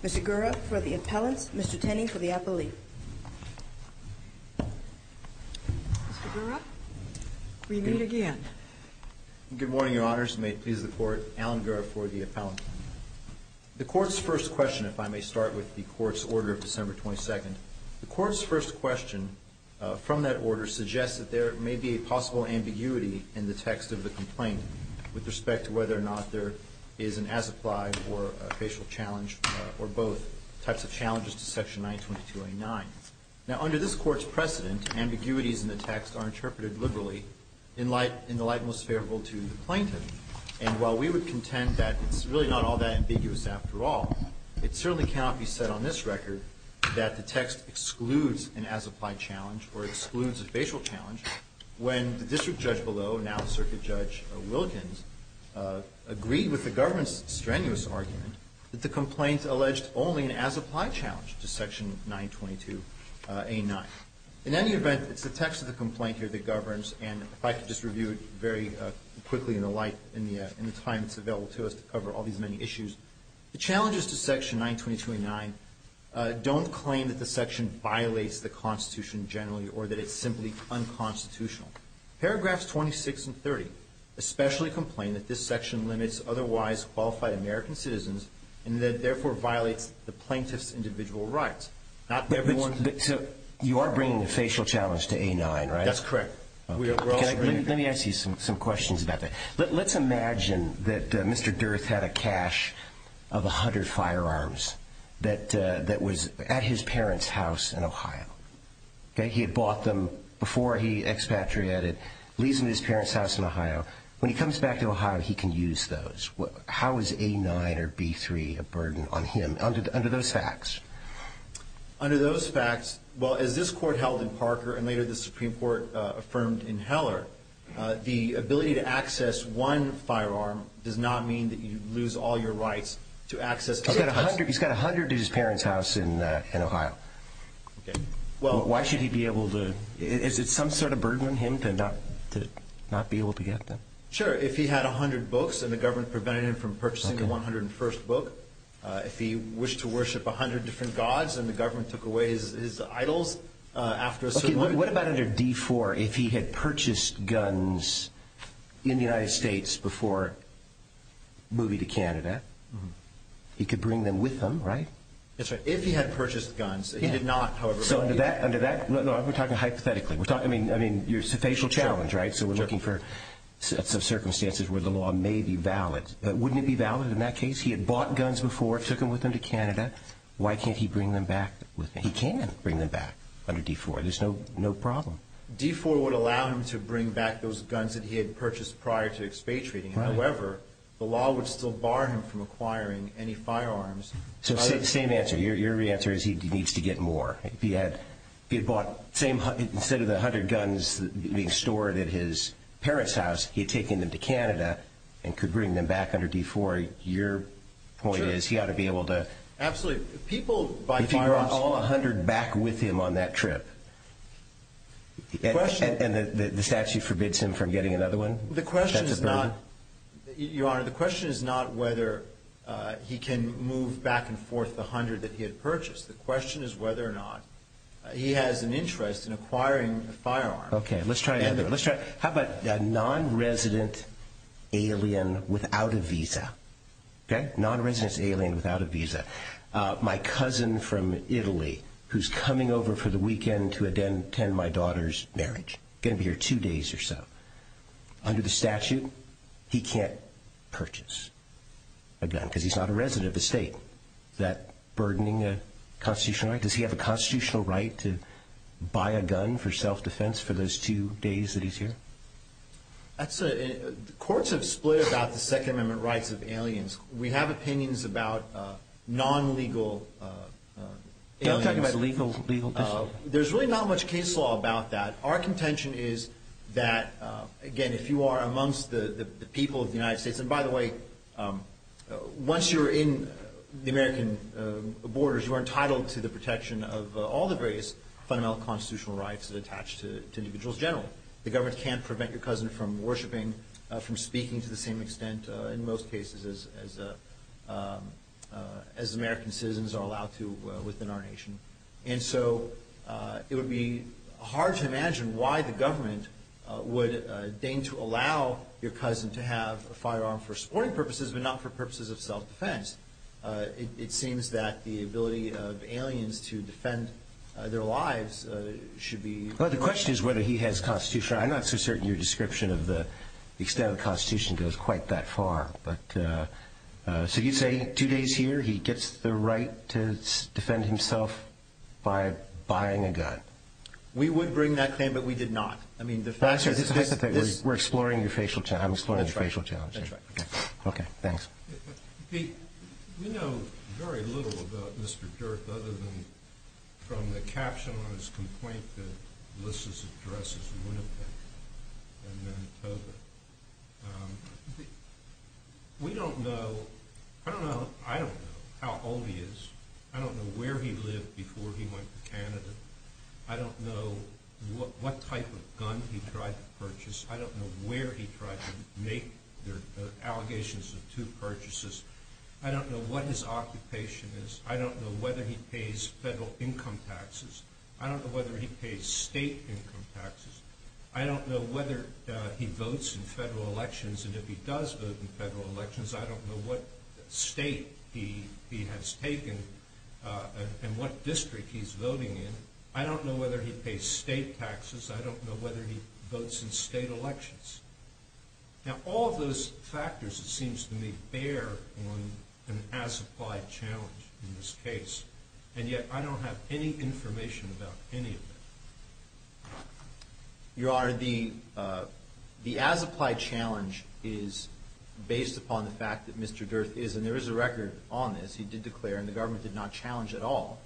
Mr. Gura for the appellant. Mr. Tenney for the appellate. Mr. Gura, we meet again. Good morning, Your Honors. May it please the Court, Alan Gura for the appellant. The Court's first question, if I may start with the Court's order of December 22nd. The Court's first question from that order suggests that there may be a possible ambiguity in the text of the complaint with respect to whether or not there is an as-applied or a facial challenge or both types of challenges to Section 922A9. Now, under this Court's precedent, ambiguities in the text are interpreted liberally in the light most favorable to the plaintiff. And while we would contend that it's really not all that ambiguous after all, it certainly cannot be said on this record the text excludes an as-applied challenge or excludes a facial challenge when the district judge below, now Circuit Judge Wilkins, agreed with the government's strenuous argument that the complaint alleged only an as-applied challenge to Section 922A9. In any event, it's the text of the complaint here that governs, and if I could just review it very quickly in the light, in the time that's available to us to cover all these many issues, the I don't claim that the section violates the Constitution generally or that it's simply unconstitutional. Paragraphs 26 and 30 especially complain that this section limits otherwise qualified American citizens and that it therefore violates the plaintiff's individual rights, not everyone's. But you are bringing the facial challenge to A9, right? That's correct. Let me ask you some questions about that. Let's imagine that Mr. Durth had a cache of 100 firearms that was at his parents' house in Ohio. He had bought them before he expatriated, leaves them at his parents' house in Ohio. When he comes back to Ohio, he can use those. How is A9 or B3 a burden on him under those facts? Under those facts, well, as this Court held in Parker and later the Supreme Court affirmed in Heller, the ability to access one firearm does not mean that you lose all your rights to access. He's got 100 at his parents' house in Ohio. Why should he be able to... Is it some sort of burden on him to not be able to get them? Sure. If he had 100 books and the government prevented him from purchasing the 101st book, if he wished to worship 100 different gods and the government took away his idols after a certain amount... He could bring them with him, right? That's right. If he had purchased guns, he did not, however... So under that... No, we're talking hypothetically. I mean, it's a facial challenge, right? So we're looking for circumstances where the law may be valid. But wouldn't it be valid in that case? He had bought guns before, took them with him to Canada. Why can't he bring them back with him? He can bring them back under D4. There's no problem. D4 would allow him to bring back those guns that he had purchased prior to expatriating. However, the law would still bar him from acquiring any firearms. So same answer. Your answer is he needs to get more. If he had bought... Instead of the 100 guns being stored at his parents' house, he had taken them to Canada and could bring them back under D4. Your point is he ought to be able to... Absolutely. People buy firearms... If he brought all 100 back with him on that trip... The question... And the statute forbids him from getting another one? The question is not... Your Honor, the question is not whether he can move back and forth the 100 that he had purchased. The question is whether or not he has an interest in acquiring a firearm. Okay. Let's try another. How about a non-resident alien without a visa? Okay? Non-resident alien without a visa. My cousin from Italy who's coming over for the weekend to attend my daughter's marriage. He's going to be here two days or so. Under the statute, he can't purchase a gun because he's not a resident of the state. Is that burdening a constitutional right? Does he have a constitutional right to buy a gun for self-defense for those two days that he's here? Courts have split about the Second Amendment rights of aliens. We have opinions about non-legal aliens. You're not talking about legal... There's really not much case law about that. Our contention is that, again, if you are amongst the people of the United States... And by the way, once you're in the American borders, you are entitled to the protection of all the various fundamental constitutional rights that attach to individuals generally. The government can't prevent your cousin from worshiping, from speaking to the same extent in most cases as American citizens are allowed to within our nation. And so it would be hard to imagine why the government would deign to allow your cousin to have a firearm for sporting purposes but not for purposes of self-defense. It seems that the ability of aliens to defend their lives should be... Well, the question is whether he has constitutional... I'm not so certain your description of the extent of the Constitution goes quite that far. So you'd say two days here, he gets the right to defend himself by buying a gun. We would bring that claim, but we did not. That's just a hypothetical. We're exploring your facial challenge. That's right. Okay, thanks. Pete, we know very little about Mr. Durth other than from the caption on his complaint that lists his address as Winnipeg in Manitoba. We don't know... I don't know how old he is, I don't know where he lived before he went to Canada, I don't know what type of gun he tried to purchase, I don't know where he tried to make the allegations of two purchases, I don't know what his occupation is, I don't know whether he pays federal income taxes, I don't know whether he pays state income taxes, I don't know whether he votes in federal and what district he's voting in, I don't know whether he pays state taxes, I don't know whether he votes in state elections. Now, all of those factors, it seems to me, bear on an as-applied challenge in this case, and yet I don't have any information about any of it. Your Honor, the as-applied challenge is based upon the fact that Mr. Durth is, and there is a record on this, he did declare, and the government did not challenge at all,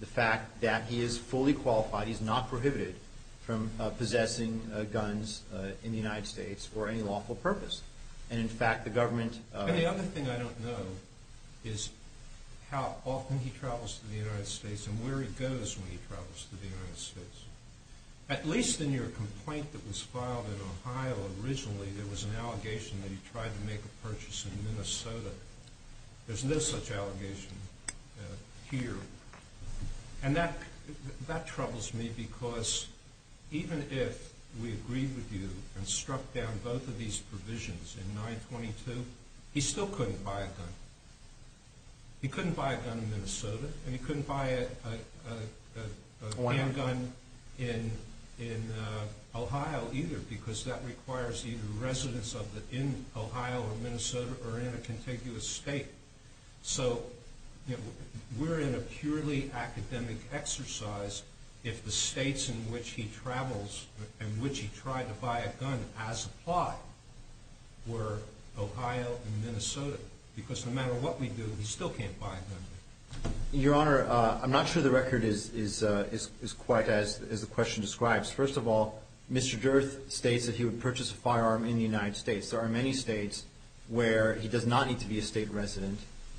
the fact that he is fully qualified, he is not prohibited from possessing guns in the United States for any lawful purpose, and in fact the government... And the other thing I don't know is how often he travels to the United States and where he goes when he travels to the United States. At least in your complaint that was filed in Ohio originally, there was an allegation that he tried to make a purchase in Minnesota. There's no such allegation here. And that troubles me because even if we agreed with you and struck down both of these provisions in 922, he still couldn't buy a gun. He couldn't buy a gun in Minnesota, and he couldn't buy a handgun in Ohio either, because there was no evidence that he could buy a handgun in Minnesota, because that requires either residence in Ohio or Minnesota, or in a contiguous state. So we're in a purely academic exercise if the states in which he travels, in which he tried to buy a gun as applied, were Ohio and Minnesota, because no matter what we do, he still can't buy a gun. Your Honor, I'm not sure the record is quite as the question describes. First of all, Mr. Durkis said he would purchase a firearm in the United States. There are many states where he does not need to be a state resident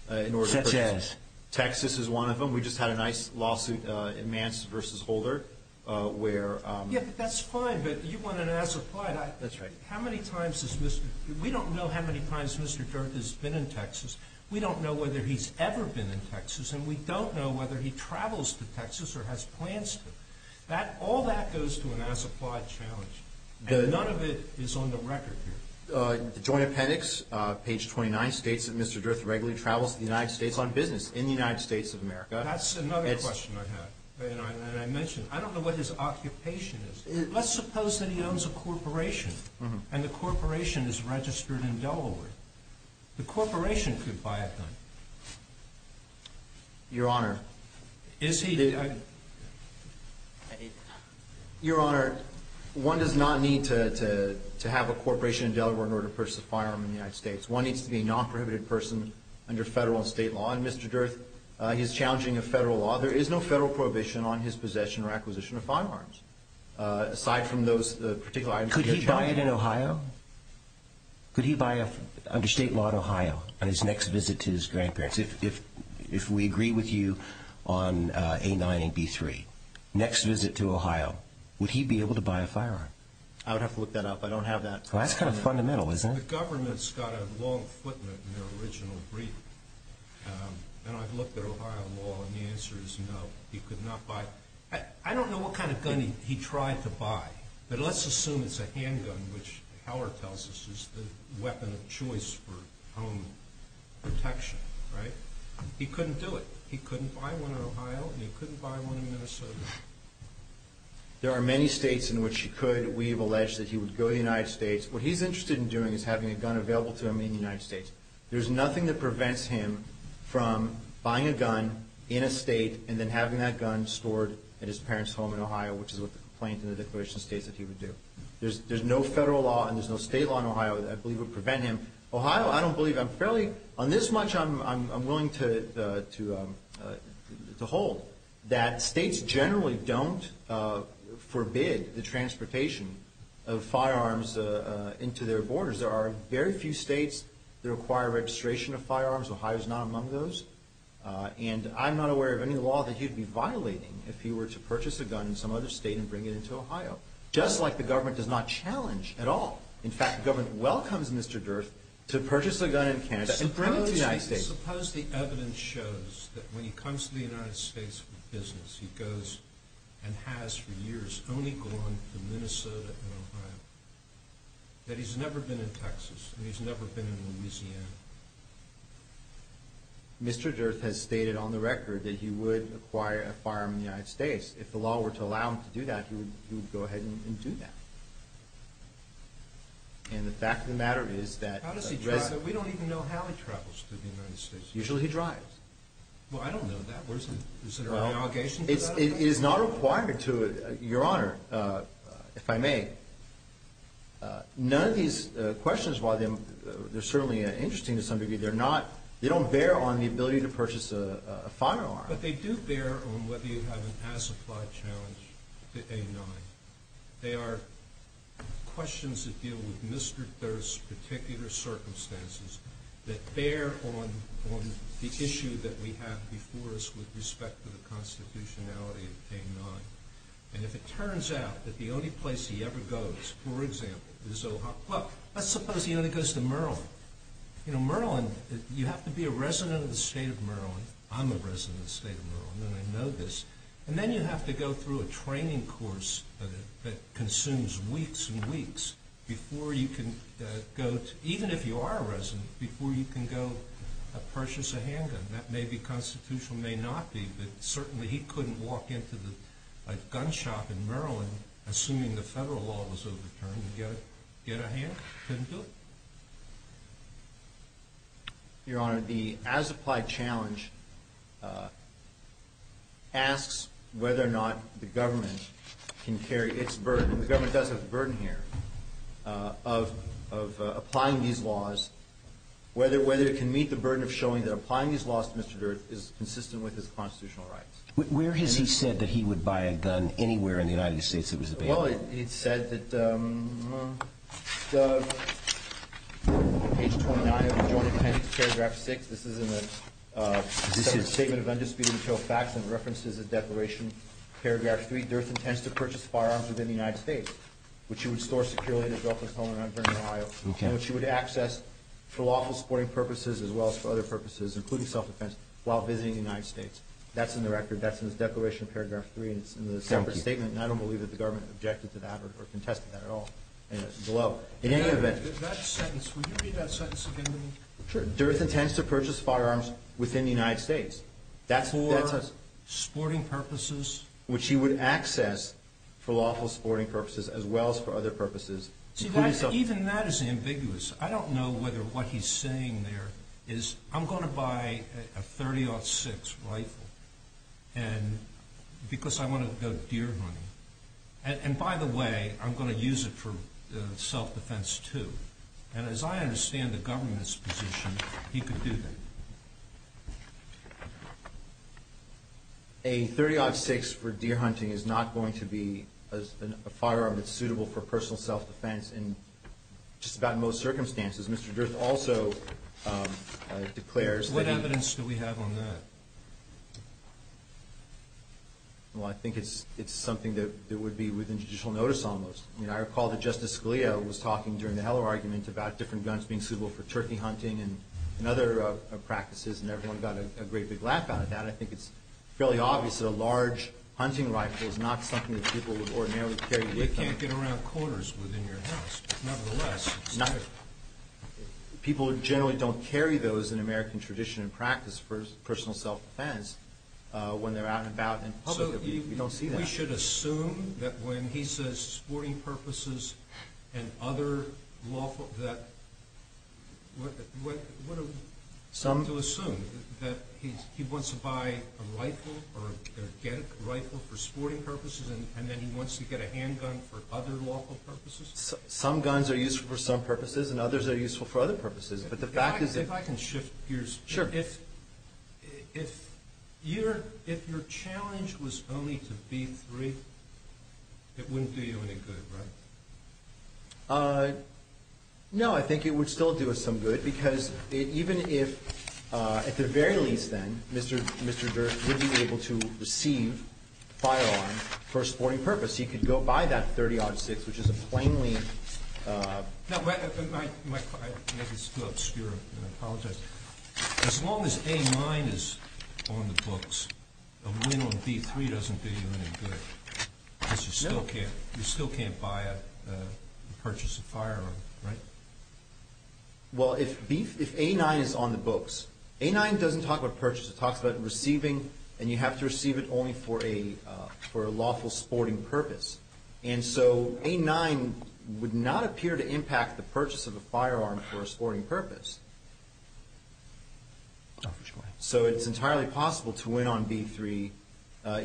in order to purchase a firearm. Such as? Texas is one of them. We just had a nice lawsuit in Mance v. Holder, where… Yeah, but that's fine, but you want an as applied. That's right. How many times has Mr. – we don't know how many times Mr. Durkis has been in Texas. We don't know whether he's ever been in Texas, and we don't know whether he travels to Texas or has plans to. All that goes to an as applied challenge. None of it is on the record here. The joint appendix, page 29, states that Mr. Durkis regularly travels to the United States on business, in the United States of America. That's another question I have, and I mentioned. I don't know what his occupation is. Let's suppose that he owns a corporation, and the corporation is registered in Delaware. The corporation could buy a gun. Your Honor. Is he? Your Honor, one does not need to have a corporation in Delaware in order to purchase a firearm in the United States. One needs to be a non-prohibited person under federal and state law, and Mr. Durkis, he's challenging a federal law. There is no federal prohibition on his possession or acquisition of firearms, aside from those particular items. Could he buy it in Ohio? Could he buy it under state law in Ohio on his next visit to his B-9 and B-3, next visit to Ohio, would he be able to buy a firearm? I would have to look that up. I don't have that. Well, that's kind of fundamental, isn't it? The government's got a long footnote in their original brief, and I've looked at Ohio law, and the answer is no. He could not buy. I don't know what kind of gun he tried to buy, but let's assume it's a handgun, which Howard tells us is the weapon of choice for home protection, right? He couldn't do it. He couldn't buy one in Ohio, and he couldn't buy one in Minnesota. There are many states in which he could. We have alleged that he would go to the United States. What he's interested in doing is having a gun available to him in the United States. There's nothing that prevents him from buying a gun in a state and then having that gun stored at his parents' home in Ohio, which is what the complaint in the declaration states that he would do. There's no federal law and there's no state law in Ohio that I believe would prevent him. Ohio, I don't believe. I'm fairly, on this much, I'm willing to hold that states generally don't forbid the transportation of firearms into their borders. There are very few states that require registration of firearms. Ohio's not among those, and I'm not aware of any law that he'd be violating if he were to purchase a gun in some other state and bring it into Ohio, just like the government does not challenge at all. In fact, the government welcomes Mr. Durth to purchase a gun in Canada and bring it to the United States. Suppose the evidence shows that when he comes to the United States for business, he goes and has for years only gone to Minnesota and Ohio, that he's never been in Texas and he's never been in Louisiana. Mr. Durth has stated on the record that he would acquire a firearm in the United States. If the law were to allow him to do that, he would go ahead and do that. And the fact of the matter is that... How does he drive? We don't even know how he travels to the United States. Usually he drives. Well, I don't know that. Is there an obligation to that? It is not required to, Your Honor, if I may, none of these questions, while they're certainly interesting to some degree, they're not, they don't bear on the ability to purchase a firearm. But they do bear on whether you have an as-applied challenge to A-9. They are questions that deal with Mr. Durth's particular circumstances that bear on the issue that we have before us with respect to the constitutionality of A-9. And if it turns out that the only place he ever goes, for example, is Ohio... Well, let's suppose he only goes to Maryland. You know, Maryland, you have to be a resident of the state of Maryland. I'm a resident of the state of Maryland, and I know this. And then you have to go through a training course that consumes weeks and weeks before you can go, even if you are a resident, before you can go purchase a handgun. That may be constitutional, may not be, but certainly he couldn't walk into a gun shop in Maryland, assuming the federal law was overturned, and get a hand? Couldn't do it? Your Honor, the as-applied challenge asks whether or not the government can carry its burden, and the government does have the burden here, of applying these laws, whether it can meet the burden of showing that applying these laws to Mr. Durth is consistent with his constitutional rights. Where has he said that he would buy a gun anywhere in the United States that was available? Well, he said that, page 29 of the Joint Appendix, paragraph 6, this is in the Statement of Undisputed Material Facts and References to the Declaration, paragraph 3, Durth intends to purchase firearms within the United States, which he would store securely at his girlfriend's home in Unvernon, Ohio, and which he would access for lawful sporting purposes as well as for other purposes, including self-defense, while visiting the United States. That's in the record, that's in the Declaration, paragraph 3, and it's in the separate statement, and I don't believe that the government objected to that or contested that at all, and it's below. That sentence, will you read that sentence again to me? Sure. Durth intends to purchase firearms within the United States. For sporting purposes? Which he would access for lawful sporting purposes as well as for other purposes, including self-defense. I mean, that is ambiguous. I don't know whether what he's saying there is, I'm going to buy a .30-06 rifle because I want to go deer hunting. And by the way, I'm going to use it for self-defense too. And as I understand the government's position, he could do that. A .30-06 for deer hunting is not going to be a firearm that's suitable for personal self-defense in just about most circumstances. Mr. Durth also declares that he... What evidence do we have on that? Well, I think it's something that would be within judicial notice almost. I mean, I recall that Justice Scalia was talking during the Heller argument about different guns being suitable for turkey hunting and other practices, and everyone got a great big laugh out of that. I think it's fairly obvious that a large hunting rifle is not something that people would ordinarily carry with them. They can't get around corners within your house, but nevertheless... People generally don't carry those in American tradition and practice for personal self-defense when they're out and about in public. We don't see that. So we should assume that when he says sporting purposes and other lawful... What do we have to assume? That he wants to buy a rifle or get a rifle for sporting purposes and then he wants to get a handgun for other lawful purposes? Some guns are useful for some purposes and others are useful for other purposes, but the fact is... If I can shift gears... Sure. If your challenge was only to B3, it wouldn't do you any good, right? No, I think it would still do us some good because even if, at the very least then, Mr. Dirk would be able to receive a firearm for a sporting purpose. He could go buy that .30-06, which is a plainly... I may be still obscure, and I apologize. As long as A9 is on the books, a win on B3 doesn't do you any good because you still can't buy or purchase a firearm, right? Well, if A9 is on the books, A9 doesn't talk about purchase. It talks about receiving, and you have to receive it only for a lawful sporting purpose. And so A9 would not appear to impact the purchase of a firearm for a sporting purpose. So it's entirely possible to win on B3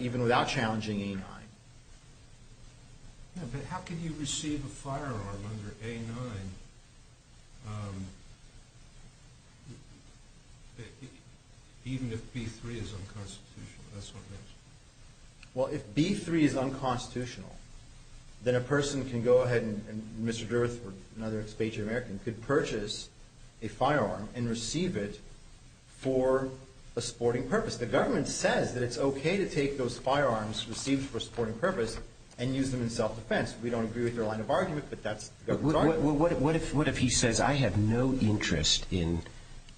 even without challenging A9. But how can you receive a firearm under A9 even if B3 is unconstitutional? Well, if B3 is unconstitutional, then a person can go ahead, and Mr. Dirk or another expatriate American could purchase a firearm and receive it for a sporting purpose. The government says that it's okay to take those firearms received for a sporting purpose and use them in self-defense. We don't agree with their line of argument, but that's the government's argument. What if he says, I have no interest in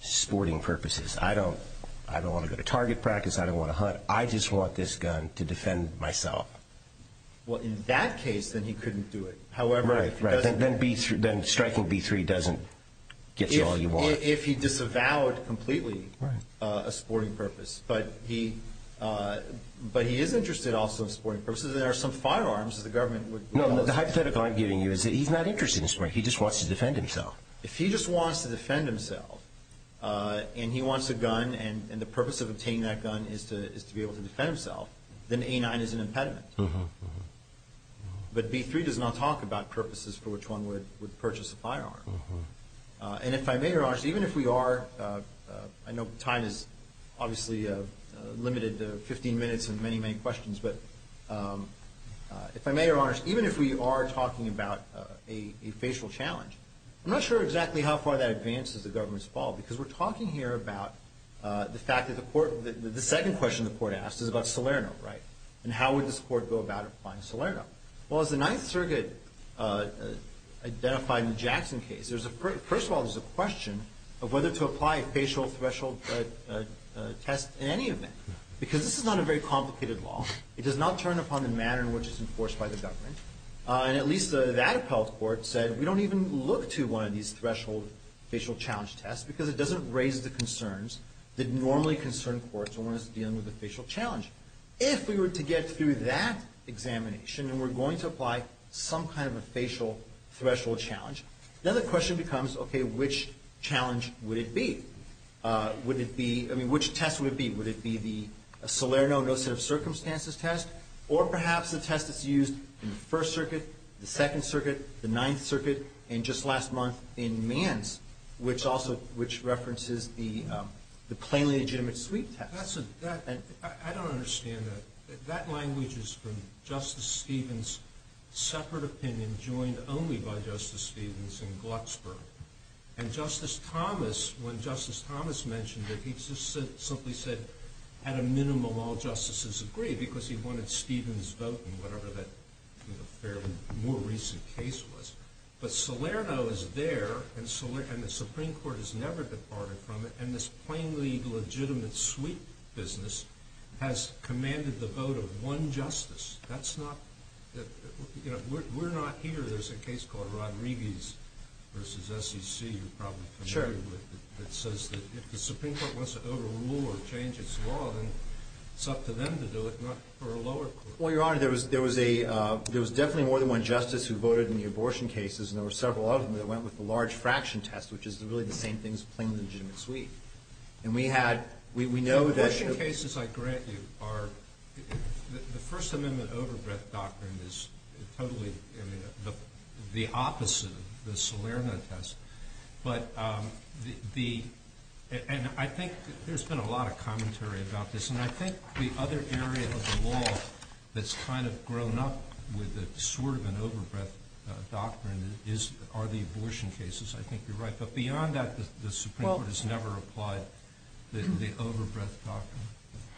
sporting purposes? I don't want to go to target practice. I don't want to hunt. I just want this gun to defend myself. Well, in that case, then he couldn't do it. Right, right. Then striking B3 doesn't get you all you want. If he disavowed completely a sporting purpose. But he is interested also in sporting purposes. There are some firearms that the government would allow. No, the hypothetical I'm giving you is that he's not interested in sporting. He just wants to defend himself. If he just wants to defend himself and he wants a gun and the purpose of obtaining that gun is to be able to defend himself, then A9 is an impediment. But B3 does not talk about purposes for which one would purchase a firearm. And if I may, Your Honors, even if we are, I know time is obviously limited to 15 minutes and many, many questions, but if I may, Your Honors, even if we are talking about a facial challenge, I'm not sure exactly how far that advances the government's fault because we're talking here about the fact that the court, the second question the court asked is about Salerno, right? And how would this court go about applying Salerno? Well, as the Ninth Circuit identified in the Jackson case, first of all, there's a question of whether to apply a facial threshold test in any event because this is not a very complicated law. It does not turn upon the manner in which it's enforced by the government. And at least that appellate court said, we don't even look to one of these threshold facial challenge tests because it doesn't raise the concerns that normally concern courts when one is dealing with a facial challenge. If we were to get through that examination and we're going to apply some kind of a facial threshold challenge, then the question becomes, okay, which challenge would it be? Would it be, I mean, which test would it be? Would it be the Salerno no set of circumstances test or perhaps the test that's used in the First Circuit, the Second Circuit, the Ninth Circuit, and just last month in Mann's, which also references the plainly legitimate sweep test. I don't understand that. That language is from Justice Stevens' separate opinion joined only by Justice Stevens in Glucksburg. And Justice Thomas, when Justice Thomas mentioned it, he just simply said at a minimum all justices agree because he wanted Stevens' vote in whatever that fairly more recent case was. But Salerno is there and the Supreme Court has never departed from it and this plainly legitimate sweep business has commanded the vote of one justice. That's not, you know, we're not here. There's a case called Rodriguez v. SEC you're probably familiar with that says that if the Supreme Court wants to overrule or change its law, then it's up to them to do it, not for a lower court. Well, Your Honor, there was definitely more than one justice who voted in the abortion cases and there were several of them that went with the large fraction test, which is really the same thing as plainly legitimate sweep. The abortion cases I grant you are, the First Amendment overbreath doctrine is totally the opposite of the Salerno test. And I think there's been a lot of commentary about this and I think the other area of the law that's kind of grown up with sort of an overbreath doctrine are the abortion cases. I think you're right. But beyond that, the Supreme Court has never applied the overbreath doctrine.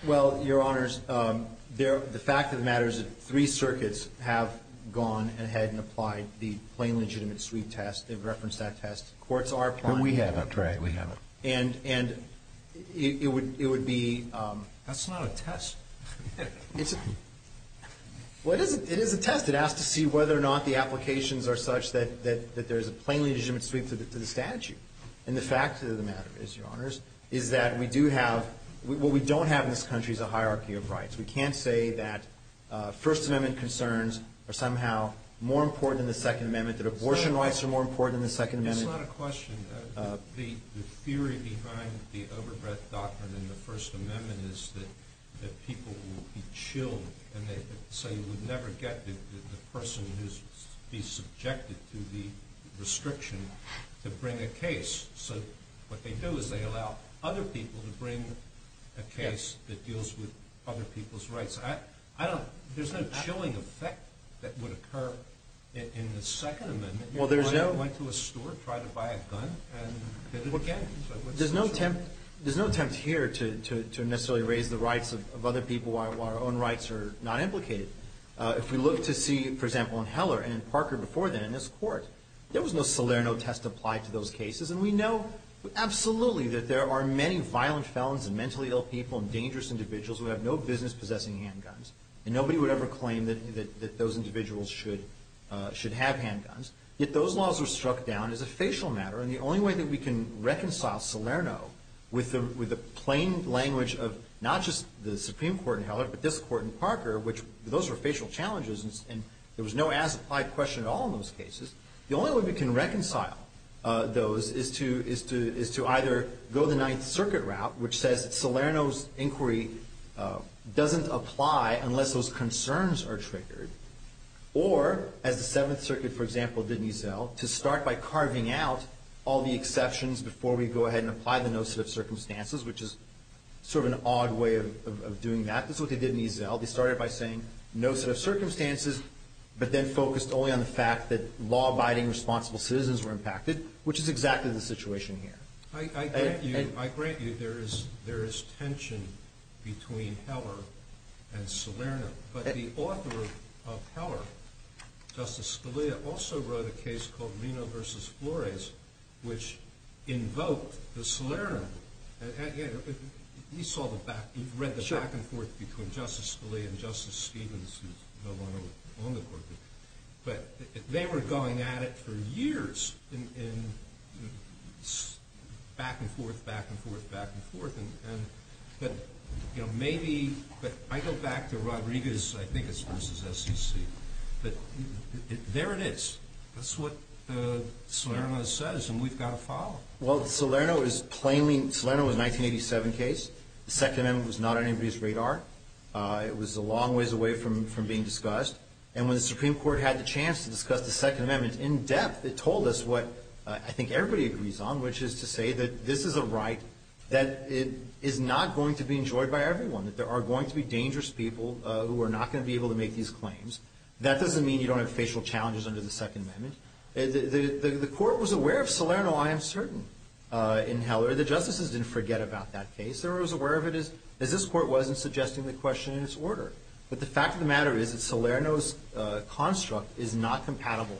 Well, Your Honors, the fact of the matter is that three circuits have gone ahead and applied the plainly legitimate sweep test. They've referenced that test. Courts are applying it. But we haven't, right? We haven't. And it would be – That's not a test. Well, it is a test. It asks to see whether or not the applications are such that there's a plainly legitimate sweep to the statute. And the fact of the matter is, Your Honors, is that we do have – what we don't have in this country is a hierarchy of rights. We can't say that First Amendment concerns are somehow more important than the Second Amendment, that abortion rights are more important than the Second Amendment. It's not a question. The theory behind the overbreath doctrine in the First Amendment is that people will be chilled and they say you would never get the person who's subjected to the restriction to bring a case. So what they do is they allow other people to bring a case that deals with other people's rights. I don't – there's no chilling effect that would occur in the Second Amendment. Well, there's no – If you went to a store, tried to buy a gun and did it again. There's no attempt here to necessarily raise the rights of other people while our own rights are not implicated. If we look to see, for example, in Heller and Parker before then in this court, there was no Salerno test applied to those cases, and we know absolutely that there are many violent felons and mentally ill people and dangerous individuals who have no business possessing handguns, and nobody would ever claim that those individuals should have handguns. Yet those laws were struck down as a facial matter, and the only way that we can reconcile Salerno with the plain language of not just the Supreme Court in Heller, but this court in Parker, which those were facial challenges, and there was no as-applied question at all in those cases. The only way we can reconcile those is to either go the Ninth Circuit route, which says that Salerno's inquiry doesn't apply unless those concerns are triggered, or as the Seventh Circuit, for example, did in Eazell, to start by carving out all the exceptions before we go ahead and apply the no set of circumstances, which is sort of an odd way of doing that. This is what they did in Eazell. They started by saying no set of circumstances, but then focused only on the fact that law-abiding, responsible citizens were impacted, which is exactly the situation here. I grant you there is tension between Heller and Salerno, but the author of Heller, Justice Scalia, also wrote a case called Reno v. Flores, which invoked the Salerno movement. You've read the back-and-forth between Justice Scalia and Justice Stevens, who's the one on the court. But they were going at it for years, back-and-forth, back-and-forth, back-and-forth. But I go back to Rodriguez, I think it's versus SEC. But there it is. That's what Salerno says, and we've got to follow. Well, Salerno is plainly ñ Salerno was a 1987 case. The Second Amendment was not on anybody's radar. It was a long ways away from being discussed. And when the Supreme Court had the chance to discuss the Second Amendment in depth, it told us what I think everybody agrees on, which is to say that this is a right that is not going to be enjoyed by everyone, that there are going to be dangerous people who are not going to be able to make these claims. That doesn't mean you don't have facial challenges under the Second Amendment. The court was aware of Salerno, I am certain, in Heller. The justices didn't forget about that case. They were as aware of it as this court was in suggesting the question in its order. But the fact of the matter is that Salerno's construct is not compatible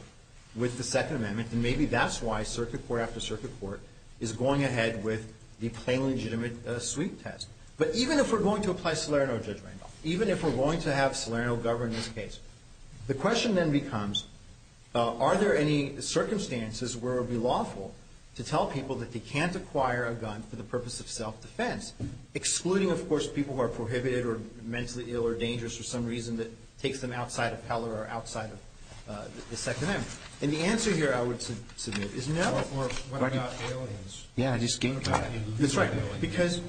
with the Second Amendment, and maybe that's why circuit court after circuit court is going ahead with the plain legitimate sweep test. But even if we're going to apply Salerno judgment, even if we're going to have Salerno govern this case, the question then becomes, are there any circumstances where it would be lawful to tell people that they can't acquire a gun for the purpose of self-defense, excluding, of course, people who are prohibited or mentally ill or dangerous for some reason that takes them outside of Heller or outside of the Second Amendment? And the answer here I would submit is no. Or what about aliens? Yeah, I just came to that. That's right. Because,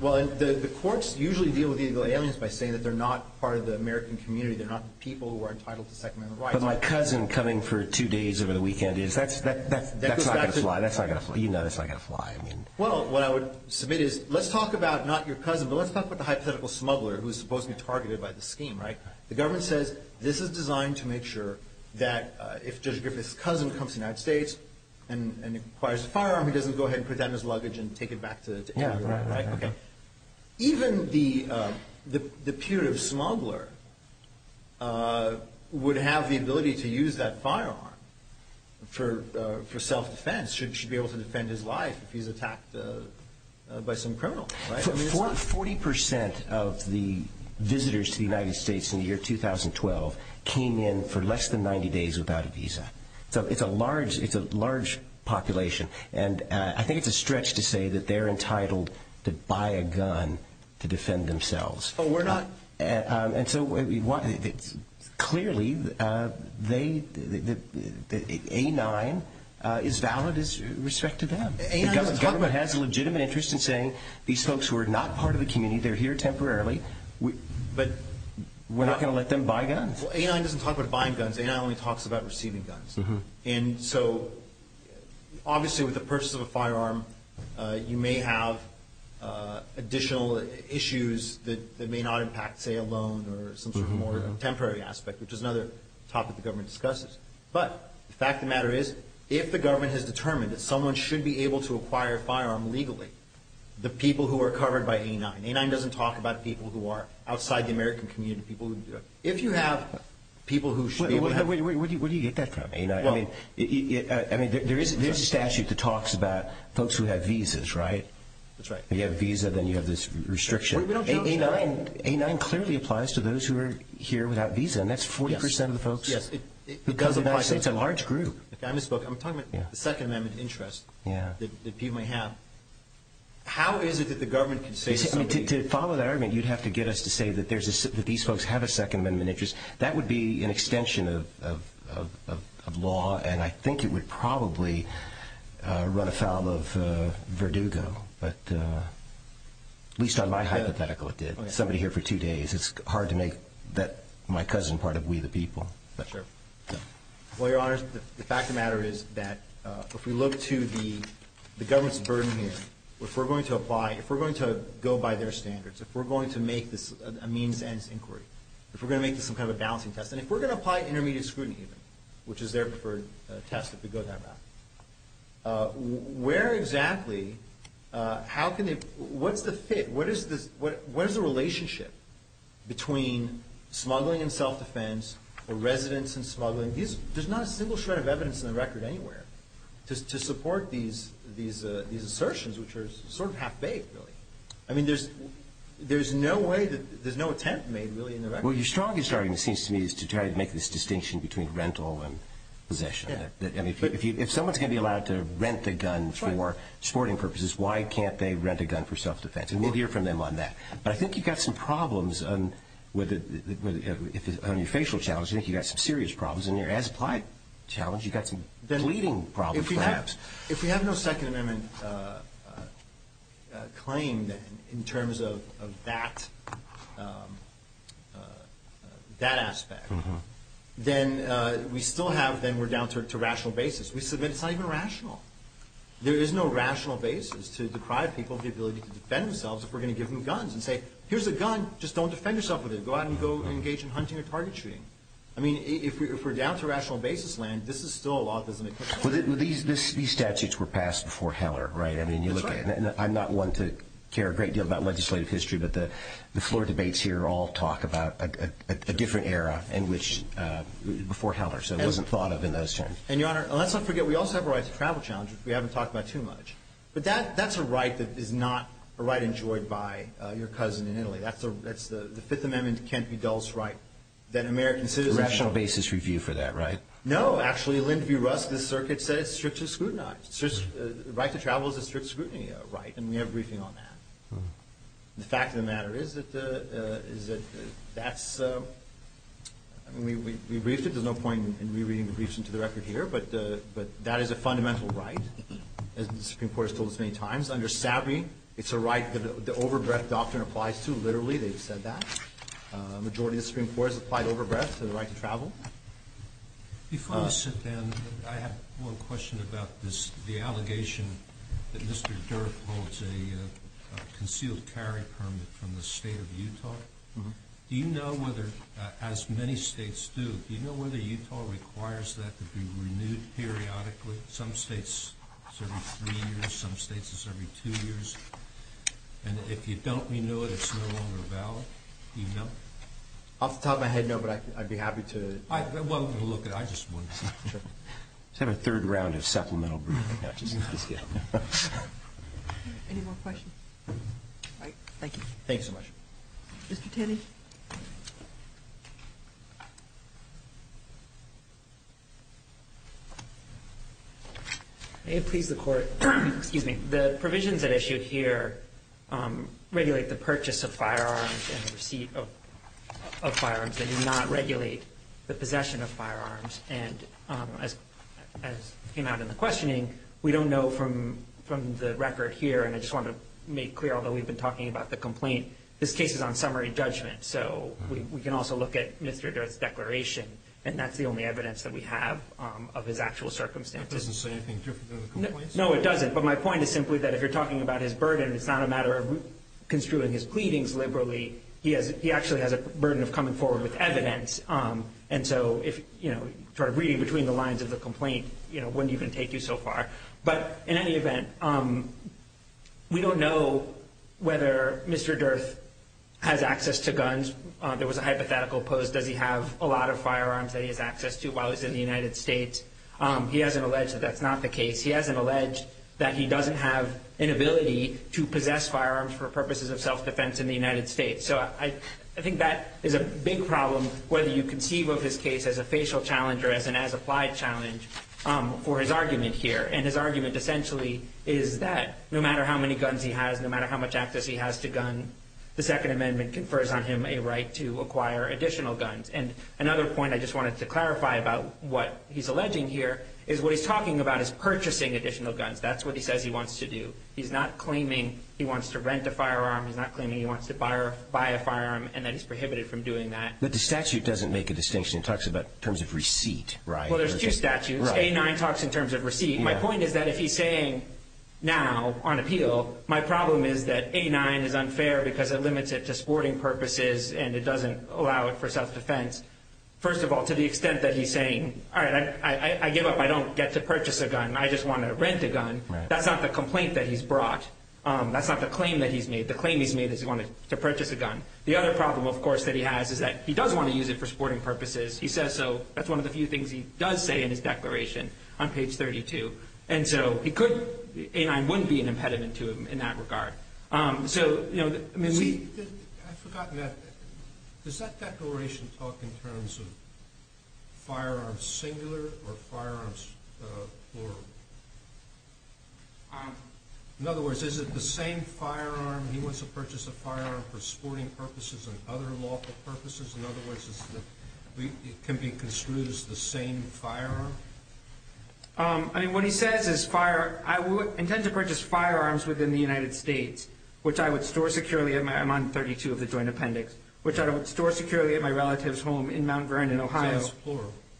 well, the courts usually deal with illegal aliens by saying that they're not part of the American community, they're not people who are entitled to Second Amendment rights. But my cousin coming for two days over the weekend, that's not going to fly. That's not going to fly. You know that's not going to fly. Well, what I would submit is let's talk about not your cousin, but let's talk about the hypothetical smuggler who is supposed to be targeted by the scheme, right? The government says this is designed to make sure that if Judge Griffith's cousin comes to the United States and acquires a firearm, he doesn't go ahead and put that in his luggage and take it back to England, right? Even the punitive smuggler would have the ability to use that firearm for self-defense, should be able to defend his life if he's attacked by some criminal, right? Forty percent of the visitors to the United States in the year 2012 came in for less than 90 days without a visa. So it's a large population. And I think it's a stretch to say that they're entitled to buy a gun to defend themselves. But we're not. And so clearly, A9 is valid with respect to them. The government has a legitimate interest in saying these folks who are not part of the community, they're here temporarily, but we're not going to let them buy guns. Well, A9 doesn't talk about buying guns. A9 only talks about receiving guns. And so obviously, with the purchase of a firearm, you may have additional issues that may not impact, say, a loan or some sort of more temporary aspect, which is another topic the government discusses. But the fact of the matter is, if the government has determined that someone should be able to acquire a firearm legally, the people who are covered by A9, A9 doesn't talk about people who are outside the American community, if you have people who should be able to have. Where do you get that from? I mean, there is a statute that talks about folks who have visas, right? That's right. If you have a visa, then you have this restriction. A9 clearly applies to those who are here without a visa, and that's 40 percent of the folks. It doesn't apply to us. It's a large group. Okay, I misspoke. I'm talking about the Second Amendment interest that people may have. How is it that the government can say to somebody? To follow that argument, you'd have to get us to say that these folks have a Second Amendment interest. That would be an extension of law, and I think it would probably run afoul of Verdugo, but at least on my hypothetical it did, somebody here for two days. It's hard to make my cousin part of we the people. Well, Your Honors, the fact of the matter is that if we look to the government's burden here, if we're going to apply, if we're going to go by their standards, if we're going to make this a means-ends inquiry, if we're going to make this some kind of a balancing test, and if we're going to apply intermediate scrutiny, which is their preferred test if we go that route, where exactly, how can they, what's the fit? What is the relationship between smuggling and self-defense or residents and smuggling? There's not a single shred of evidence in the record anywhere to support these assertions, which are sort of half-baked, really. I mean, there's no way that, there's no attempt made, really, in the record. Well, your strongest argument, it seems to me, is to try to make this distinction between rental and possession. If someone's going to be allowed to rent a gun for sporting purposes, why can't they rent a gun for self-defense? And we'll hear from them on that. But I think you've got some problems on your facial challenge. I think you've got some serious problems. In your as-applied challenge, you've got some bleeding problems, perhaps. If we have no Second Amendment claim in terms of that aspect, then we still have, then we're down to rational basis. We submit it's not even rational. There is no rational basis to deprive people of the ability to defend themselves if we're going to give them guns and say, here's a gun. Just don't defend yourself with it. Go out and go engage in hunting or target shooting. I mean, if we're down to rational basis land, this is still a law that doesn't exist. These statutes were passed before Heller, right? That's right. I'm not one to care a great deal about legislative history, but the floor debates here all talk about a different era before Heller. So it wasn't thought of in those terms. And, Your Honor, let's not forget we also have a right to travel challenge, which we haven't talked about too much. But that's a right that is not a right enjoyed by your cousin in Italy. That's the Fifth Amendment can't-be-dulls right that American citizens have. It's a rational basis review for that, right? No, actually. Lyndon B. Rusk, the circuit, said it's strictly scrutinized. The right to travel is a strict scrutiny right, and we have a briefing on that. The fact of the matter is that that's – I mean, we briefed it. There's no point in rereading the briefs into the record here. But that is a fundamental right, as the Supreme Court has told us many times. Under SABI, it's a right that the overbreath doctrine applies to. Literally, they've said that. A majority of the Supreme Court has applied overbreath to the right to travel. Before we sit down, I have one question about the allegation that Mr. Dirk holds a concealed carry permit from the state of Utah. Do you know whether, as many states do, do you know whether Utah requires that to be renewed periodically? Some states it's every three years. Some states it's every two years. And if you don't renew it, it's no longer valid. Do you know? Off the top of my head, no, but I'd be happy to look at it. Let's have a third round of supplemental briefing. Any more questions? All right, thank you. Thank you so much. Mr. Tenney? May it please the Court, the provisions at issue here regulate the purchase of firearms and the receipt of firearms. They do not regulate the possession of firearms. And as came out in the questioning, we don't know from the record here, and I just want to make clear, although we've been talking about the complaint, this case is on summary judgment. So we can also look at Mr. Dirk's declaration, and that's the only evidence that we have of his actual circumstances. That doesn't say anything different than the complaints? No, it doesn't. But my point is simply that if you're talking about his burden, it's not a matter of construing his pleadings liberally. He actually has a burden of coming forward with evidence, and so reading between the lines of the complaint wouldn't even take you so far. But in any event, we don't know whether Mr. Dirk has access to guns. There was a hypothetical posed, does he have a lot of firearms that he has access to while he was in the United States. He hasn't alleged that that's not the case. He hasn't alleged that he doesn't have an ability to possess firearms for purposes of self-defense in the United States. So I think that is a big problem, whether you conceive of his case as a facial challenge or as an as-applied challenge for his argument here. And his argument essentially is that no matter how many guns he has, no matter how much access he has to guns, the Second Amendment confers on him a right to acquire additional guns. And another point I just wanted to clarify about what he's alleging here is what he's talking about is purchasing additional guns. That's what he says he wants to do. He's not claiming he wants to rent a firearm. He's not claiming he wants to buy a firearm and that he's prohibited from doing that. But the statute doesn't make a distinction. It talks about terms of receipt, right? Well, there's two statutes. A-9 talks in terms of receipt. My point is that if he's saying now on appeal, my problem is that A-9 is unfair because it limits it to sporting purposes and it doesn't allow it for self-defense. First of all, to the extent that he's saying, all right, I give up. I don't get to purchase a gun. I just want to rent a gun. That's not the complaint that he's brought. That's not the claim that he's made. The claim he's made is he wanted to purchase a gun. The other problem, of course, that he has is that he does want to use it for sporting purposes. He says so. That's one of the few things he does say in his declaration on page 32. And so A-9 wouldn't be an impediment to him in that regard. I've forgotten that. Does that declaration talk in terms of firearms singular or firearms plural? In other words, is it the same firearm? He wants to purchase a firearm for sporting purposes and other lawful purposes. In other words, it can be construed as the same firearm? I mean, what he says is I would intend to purchase firearms within the United States, which I would store securely at my—I'm on 32 of the joint appendix— which I would store securely at my relative's home in Mount Vernon, Ohio,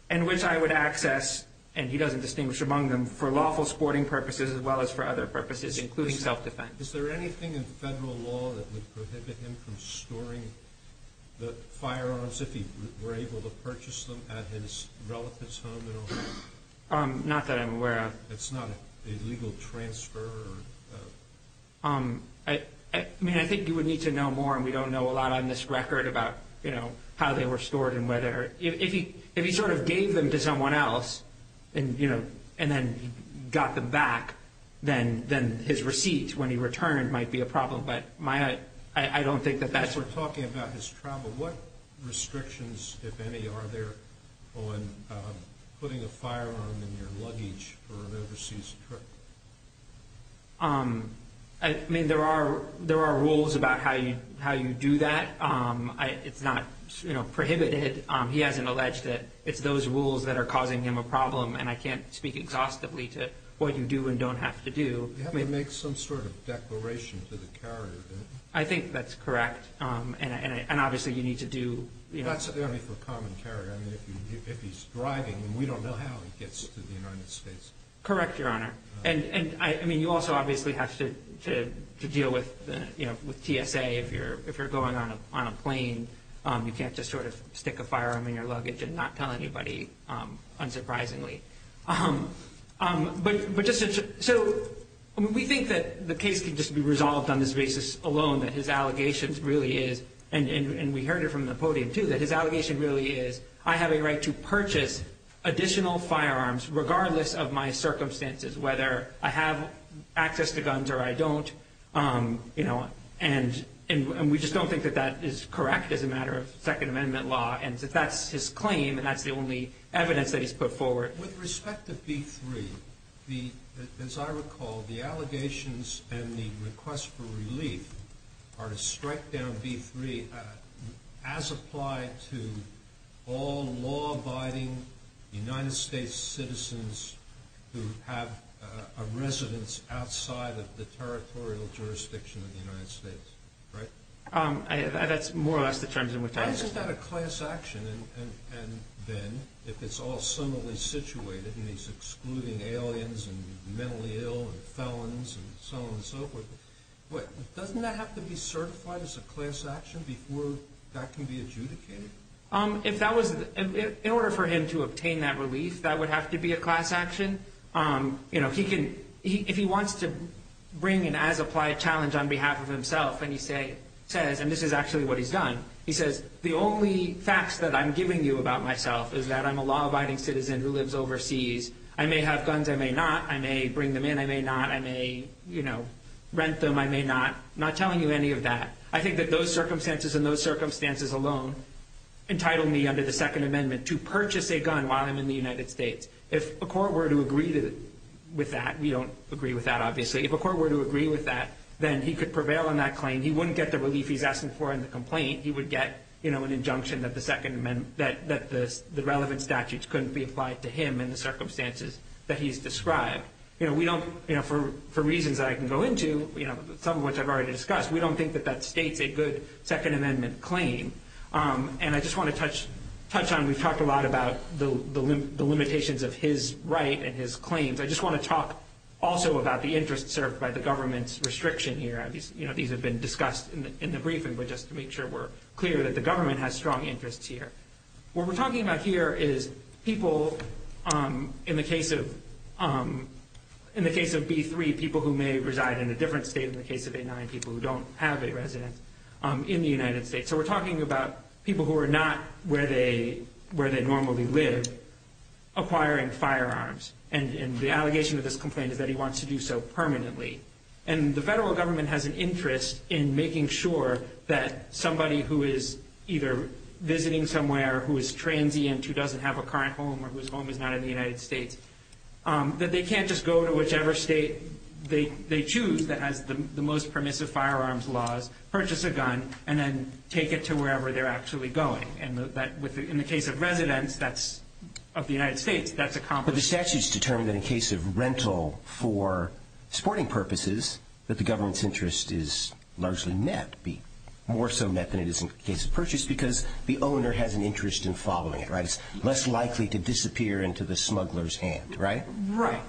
and which I would access, and he doesn't distinguish among them, for lawful sporting purposes as well as for other purposes, including self-defense. Is there anything in federal law that would prohibit him from storing the firearms if he were able to purchase them at his relative's home in Ohio? Not that I'm aware of. It's not a legal transfer? I mean, I think you would need to know more, and we don't know a lot on this record about how they were stored and whether— if he sort of gave them to someone else and then got them back, then his receipts when he returned might be a problem, but I don't think that that's— As we're talking about his travel, what restrictions, if any, are there on putting a firearm in your luggage for an overseas trip? I mean, there are rules about how you do that. It's not prohibited. He hasn't alleged that it's those rules that are causing him a problem, and I can't speak exhaustively to what you do and don't have to do. You have to make some sort of declaration to the carrier, don't you? I think that's correct, and obviously you need to do— That's only for common carrier. I mean, if he's driving, we don't know how he gets to the United States. Correct, Your Honor. And, I mean, you also obviously have to deal with TSA. If you're going on a plane, you can't just sort of stick a firearm in your luggage and not tell anybody, unsurprisingly. So we think that the case can just be resolved on this basis alone, that his allegations really is—and we heard it from the podium, too— that his allegation really is, I have a right to purchase additional firearms regardless of my circumstances, whether I have access to guns or I don't. And we just don't think that that is correct as a matter of Second Amendment law, and that that's his claim, and that's the only evidence that he's put forward. With respect to B-3, as I recall, the allegations and the request for relief are to strike down B-3 as applied to all law-abiding United States citizens who have a residence outside of the territorial jurisdiction of the United States, right? That's more or less the terms in which I— Isn't that a class action, then, if it's all similarly situated and he's excluding aliens and mentally ill and felons and so on and so forth? Wait, doesn't that have to be certified as a class action before that can be adjudicated? If that was—in order for him to obtain that relief, that would have to be a class action. If he wants to bring an as-applied challenge on behalf of himself and he says— The only facts that I'm giving you about myself is that I'm a law-abiding citizen who lives overseas. I may have guns, I may not. I may bring them in, I may not. I may rent them, I may not. I'm not telling you any of that. I think that those circumstances and those circumstances alone entitle me under the Second Amendment to purchase a gun while I'm in the United States. If a court were to agree with that—we don't agree with that, obviously. If a court were to agree with that, then he could prevail on that claim. He wouldn't get the relief he's asking for in the complaint. He would get an injunction that the relevant statutes couldn't be applied to him in the circumstances that he's described. For reasons that I can go into, some of which I've already discussed, we don't think that that states a good Second Amendment claim. I just want to touch on—we've talked a lot about the limitations of his right and his claims. I just want to talk also about the interest served by the government's restriction here. These have been discussed in the briefing, but just to make sure we're clear that the government has strong interests here. What we're talking about here is people in the case of B-3, people who may reside in a different state than the case of A-9, people who don't have a residence in the United States. So we're talking about people who are not where they normally live acquiring firearms. And the allegation of this complaint is that he wants to do so permanently. And the federal government has an interest in making sure that somebody who is either visiting somewhere who is transient, who doesn't have a current home, or whose home is not in the United States, that they can't just go to whichever state they choose that has the most permissive firearms laws, purchase a gun, and then take it to wherever they're actually going. In the case of residence, that's—of the United States, that's accomplished. So the statute's determined that in case of rental for sporting purposes, that the government's interest is largely met, be more so met than it is in the case of purchase, because the owner has an interest in following it, right? It's less likely to disappear into the smuggler's hand, right? Right.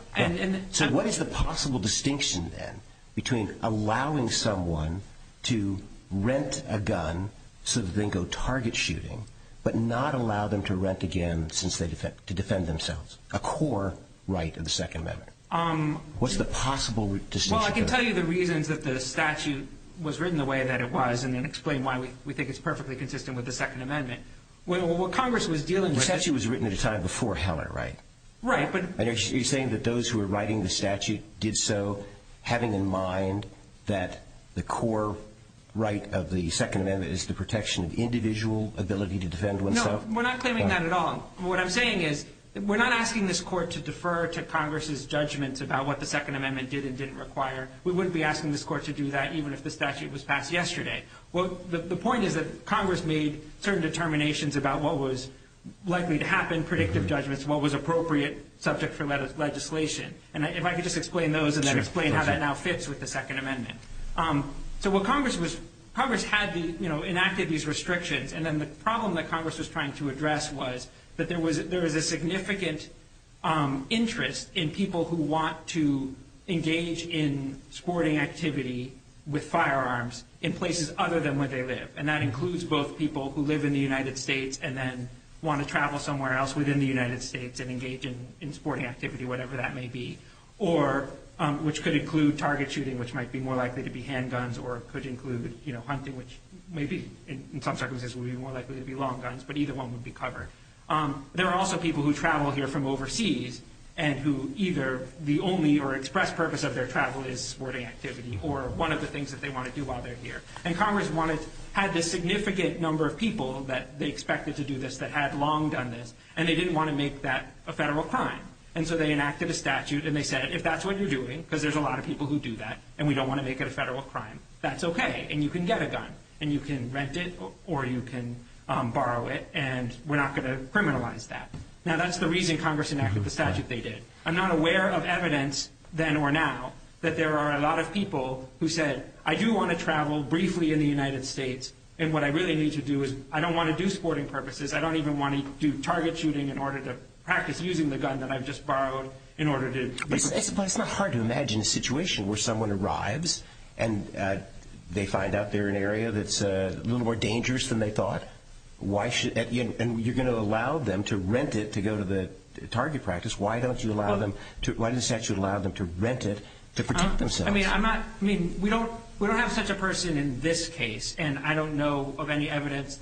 So what is the possible distinction, then, between allowing someone to rent a gun so that they can go target shooting, but not allow them to rent again since they—to defend themselves? A core right of the Second Amendment. What's the possible distinction? Well, I can tell you the reasons that the statute was written the way that it was and then explain why we think it's perfectly consistent with the Second Amendment. What Congress was dealing with— The statute was written at a time before Heller, right? Right, but— And you're saying that those who were writing the statute did so having in mind that the core right of the Second Amendment is the protection of individual ability to defend oneself? No, we're not claiming that at all. What I'm saying is we're not asking this Court to defer to Congress's judgments about what the Second Amendment did and didn't require. We wouldn't be asking this Court to do that even if the statute was passed yesterday. The point is that Congress made certain determinations about what was likely to happen, predictive judgments, what was appropriate subject for legislation. And if I could just explain those and then explain how that now fits with the Second Amendment. So what Congress was—Congress enacted these restrictions, and then the problem that Congress was trying to address was that there was a significant interest in people who want to engage in sporting activity with firearms in places other than where they live, and that includes both people who live in the United States and then want to travel somewhere else within the United States and engage in sporting activity, whatever that may be, which could include target shooting, which might be more likely to be handguns, or it could include hunting, which maybe in some circumstances will be more likely to be long guns, but either one would be covered. There are also people who travel here from overseas and who either the only or express purpose of their travel is sporting activity or one of the things that they want to do while they're here. And Congress had this significant number of people that they expected to do this that had long done this, and they didn't want to make that a federal crime, and so they enacted a statute and they said if that's what you're doing, because there's a lot of people who do that and we don't want to make it a federal crime, that's okay and you can get a gun and you can rent it or you can borrow it and we're not going to criminalize that. Now that's the reason Congress enacted the statute they did. I'm not aware of evidence then or now that there are a lot of people who said, I do want to travel briefly in the United States, and what I really need to do is I don't want to do sporting purposes, I don't even want to do target shooting in order to practice using the gun that I've just borrowed. But it's not hard to imagine a situation where someone arrives and they find out they're in an area that's a little more dangerous than they thought, and you're going to allow them to rent it to go to the target practice, why doesn't the statute allow them to rent it to protect themselves? We don't have such a person in this case, and I don't know of any evidence.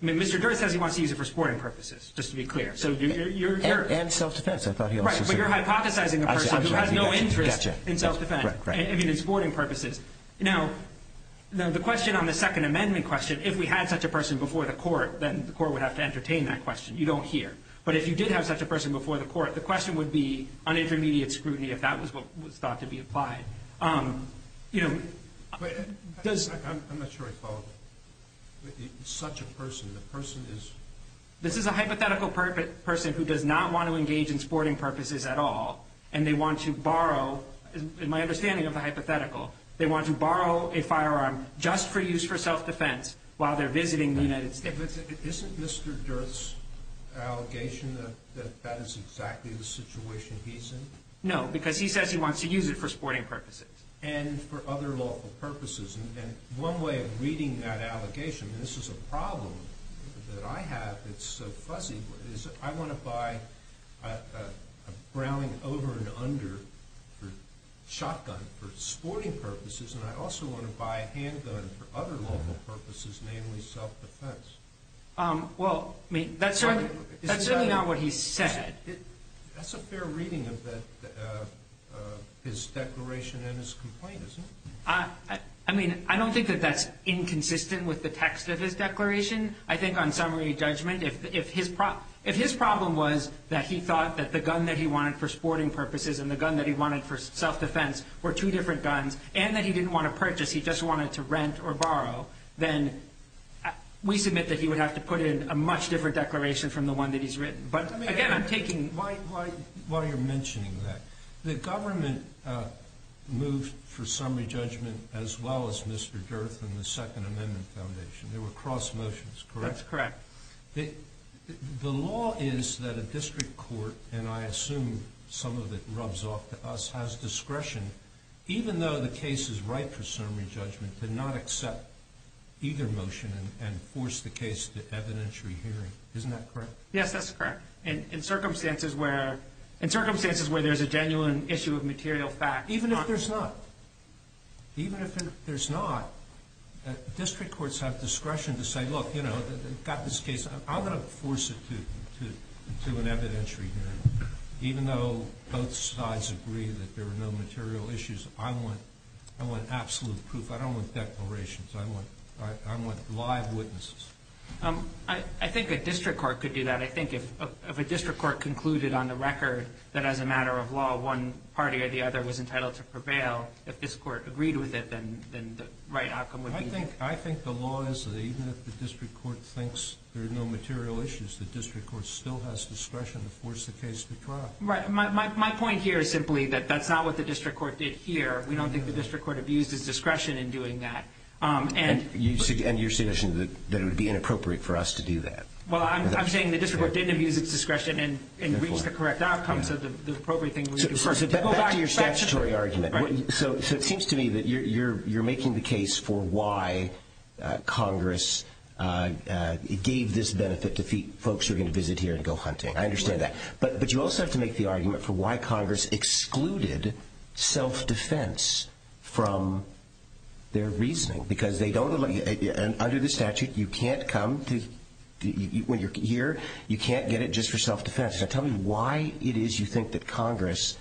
Mr. Durst says he wants to use it for sporting purposes, just to be clear. And self-defense. Right, but you're hypothesizing a person who has no interest in self-defense, I mean in sporting purposes. Now the question on the Second Amendment question, if we had such a person before the court then the court would have to entertain that question, you don't here. But if you did have such a person before the court, the question would be on intermediate scrutiny if that was what was thought to be applied. I'm not sure I follow. Such a person, the person is... This is a hypothetical person who does not want to engage in sporting purposes at all, and they want to borrow, in my understanding of the hypothetical, they want to borrow a firearm just for use for self-defense while they're visiting the United States. Isn't Mr. Durst's allegation that that is exactly the situation he's in? No, because he says he wants to use it for sporting purposes. And for other lawful purposes. And one way of reading that allegation, and this is a problem that I have that's so fuzzy, is I want to buy a Browning over and under shotgun for sporting purposes, and I also want to buy a handgun for other lawful purposes, namely self-defense. Well, that's certainly not what he said. That's a fair reading of his declaration and his complaint, isn't it? I mean, I don't think that that's inconsistent with the text of his declaration. I think on summary judgment, if his problem was that he thought that the gun that he wanted for sporting purposes and the gun that he wanted for self-defense were two different guns, and that he didn't want to purchase, he just wanted to rent or borrow, then we submit that he would have to put in a much different declaration from the one that he's written. While you're mentioning that, the government moved for summary judgment as well as Mr. Durth and the Second Amendment Foundation. They were cross motions, correct? That's correct. The law is that a district court, and I assume some of it rubs off to us, has discretion, even though the case is right for summary judgment, to not accept either motion and force the case to evidentiary hearing. Isn't that correct? Yes, that's correct. In circumstances where there's a genuine issue of material fact. Even if there's not, district courts have discretion to say, look, we've got this case, I'm going to force it to an evidentiary hearing. Even though both sides agree that there are no material issues, I want absolute proof. I don't want declarations. I want live witnesses. I think a district court could do that. I think if a district court concluded on the record that as a matter of law, one party or the other was entitled to prevail, if this court agreed with it, then the right outcome would be. I think the law is that even if the district court thinks there are no material issues, the district court still has discretion to force the case to trial. Right. My point here is simply that that's not what the district court did here. We don't think the district court abuses discretion in doing that. And you're suggesting that it would be inappropriate for us to do that. Well, I'm saying the district court didn't abuse its discretion and reached the correct outcome, so the appropriate thing would be to force it. Back to your statutory argument. So it seems to me that you're making the case for why Congress gave this benefit to folks who are going to visit here and go hunting. I understand that. But you also have to make the argument for why Congress excluded self-defense from their reasoning because they don't allow you, under the statute, you can't come to when you're here, you can't get it just for self-defense. So tell me why it is you think that Congress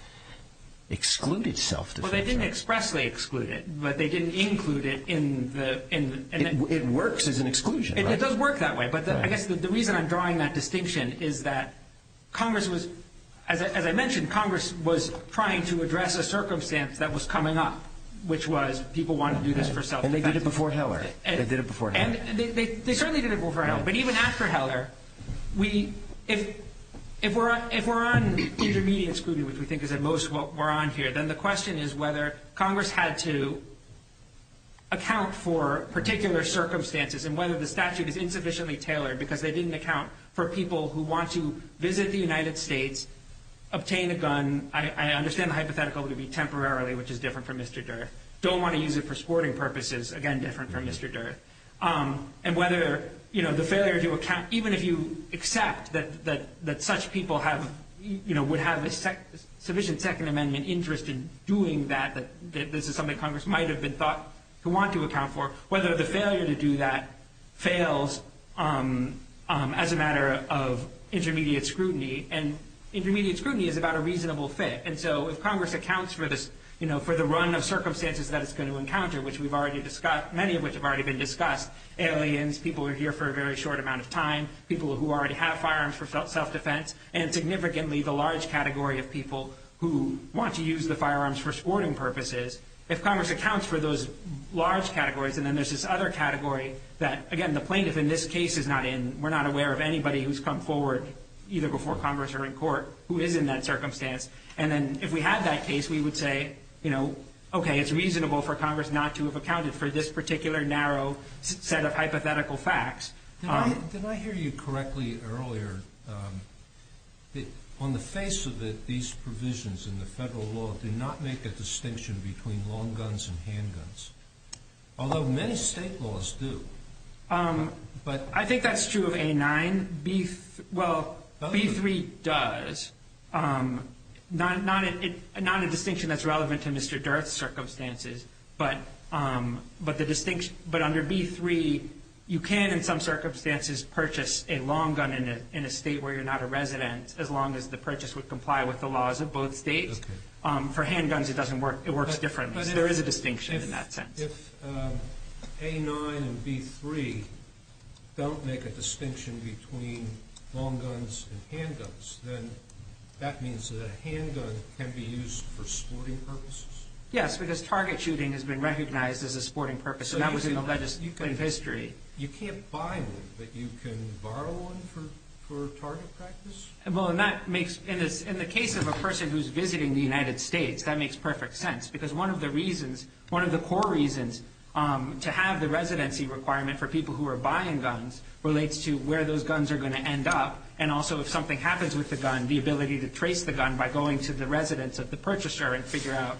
excluded self-defense. Well, they didn't expressly exclude it, but they didn't include it in the It works as an exclusion. It does work that way, but I guess the reason I'm drawing that distinction is that Congress was, as I mentioned, Congress was trying to address a circumstance that was coming up, which was people wanted to do this for self-defense. And they did it before Heller. They did it before Heller. They certainly did it before Heller. But even after Heller, if we're on intermediate scrutiny, which we think is at most what we're on here, then the question is whether Congress had to account for particular circumstances and whether the statute is insufficiently tailored because they didn't account for people who want to visit the United States, obtain a gun. I understand the hypothetical would be temporarily, which is different from Mr. Durth. Don't want to use it for sporting purposes, again, different from Mr. Durth. And whether the failure to account, even if you accept that such people would have a sufficient Second Amendment interest in doing that, that this is something Congress might have been thought to want to account for, whether the failure to do that fails as a matter of intermediate scrutiny. And intermediate scrutiny is about a reasonable fit. And so if Congress accounts for the run of circumstances that it's going to encounter, which we've already discussed, many of which have already been discussed, aliens, people who are here for a very short amount of time, people who already have firearms for self-defense, and significantly the large category of people who want to use the firearms for sporting purposes, if Congress accounts for those large categories, and then there's this other category that, again, the plaintiff in this case is not in, either before Congress or in court, who is in that circumstance. And then if we had that case, we would say, you know, okay, it's reasonable for Congress not to have accounted for this particular narrow set of hypothetical facts. Did I hear you correctly earlier? On the face of it, these provisions in the federal law do not make a distinction between long guns and handguns, although many state laws do. I think that's true of A9. Well, B3 does. Not a distinction that's relevant to Mr. Durth's circumstances, but under B3 you can, in some circumstances, purchase a long gun in a state where you're not a resident, as long as the purchase would comply with the laws of both states. For handguns, it works differently. So there is a distinction in that sense. If A9 and B3 don't make a distinction between long guns and handguns, then that means that a handgun can be used for sporting purposes? Yes, because target shooting has been recognized as a sporting purpose, and that was in the legislative history. You can't buy one, but you can borrow one for target practice? Well, in the case of a person who's visiting the United States, that makes perfect sense, because one of the core reasons to have the residency requirement for people who are buying guns relates to where those guns are going to end up, and also if something happens with the gun, the ability to trace the gun by going to the residence of the purchaser and figure out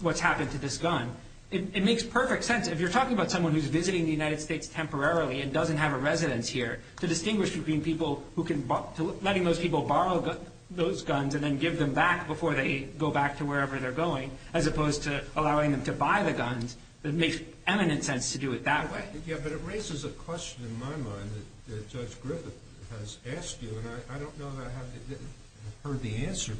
what's happened to this gun. It makes perfect sense. If you're talking about someone who's visiting the United States temporarily and doesn't have a residence here, to distinguish between letting those people borrow those guns and then give them back before they go back to wherever they're going, as opposed to allowing them to buy the guns, it makes eminent sense to do it that way. Yeah, but it raises a question in my mind that Judge Griffith has asked you, and I don't know that I have heard the answer.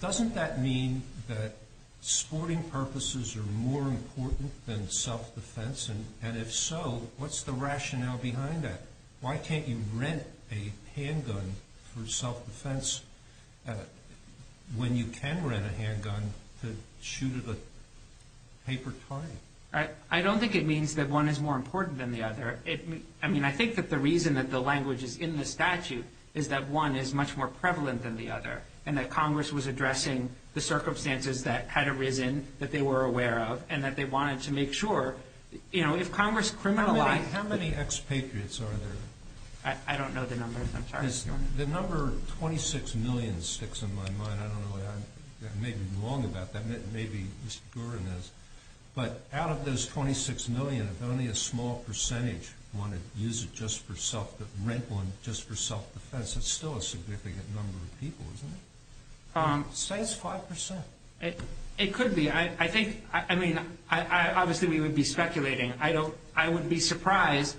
Doesn't that mean that sporting purposes are more important than self-defense, and if so, what's the rationale behind that? Why can't you rent a handgun for self-defense when you can rent a handgun to shoot at a paper target? I don't think it means that one is more important than the other. I mean, I think that the reason that the language is in the statute is that one is much more prevalent than the other and that Congress was addressing the circumstances that had arisen, that they were aware of, and that they wanted to make sure, you know, if Congress criminalized... How many expatriates are there? I don't know the numbers. I'm sorry. The number 26 million sticks in my mind. I don't know. I may be wrong about that. Maybe Mr. Gurin is. But out of those 26 million, if only a small percentage wanted to use it just for self-defense, rent one just for self-defense, that's still a significant number of people, isn't it? Say it's 5%. It could be. I mean, obviously we would be speculating. I wouldn't be surprised.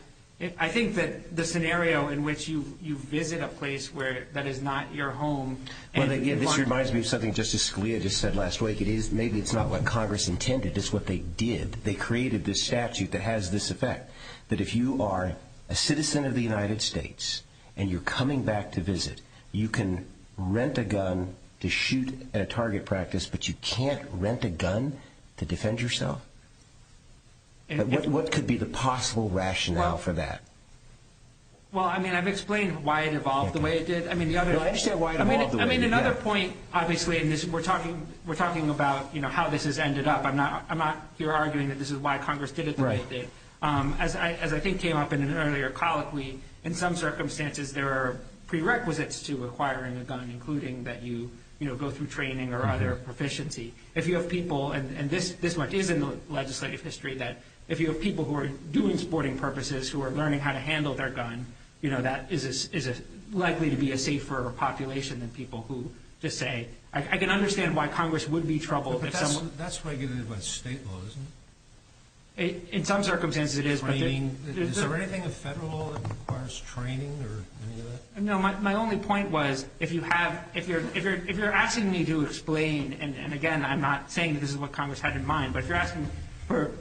I think that the scenario in which you visit a place that is not your home... Well, again, this reminds me of something Justice Scalia just said last week. Maybe it's not what Congress intended. It's what they did. They created this statute that has this effect, that if you are a citizen of the United States and you're coming back to visit, you can rent a gun to shoot at a target practice, but you can't rent a gun to defend yourself? What could be the possible rationale for that? Well, I mean, I've explained why it evolved the way it did. I understand why it evolved the way it did. I mean, another point, obviously, and we're talking about how this has ended up. I'm not here arguing that this is why Congress did it the way it did. As I think came up in an earlier colloquy, in some circumstances there are prerequisites to acquiring a gun, including that you go through training or other proficiency. If you have people, and this much is in the legislative history, that if you have people who are doing sporting purposes, who are learning how to handle their gun, that is likely to be a safer population than people who just say... I can understand why Congress would be troubled if someone... But that's regulated by state law, isn't it? In some circumstances it is, but... I mean, is there anything in federal law that requires training or any of that? No, my only point was, if you're asking me to explain, and again, I'm not saying this is what Congress had in mind, but if you're asking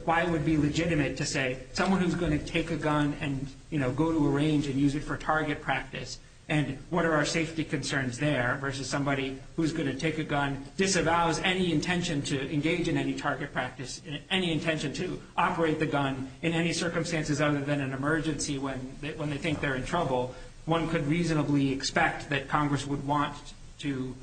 why it would be legitimate to say someone who's going to take a gun and go to a range and use it for target practice and what are our safety concerns there versus somebody who's going to take a gun, disavows any intention to engage in any target practice, any intention to operate the gun in any circumstances other than an emergency when they think they're in trouble, one could reasonably expect that Congress would want to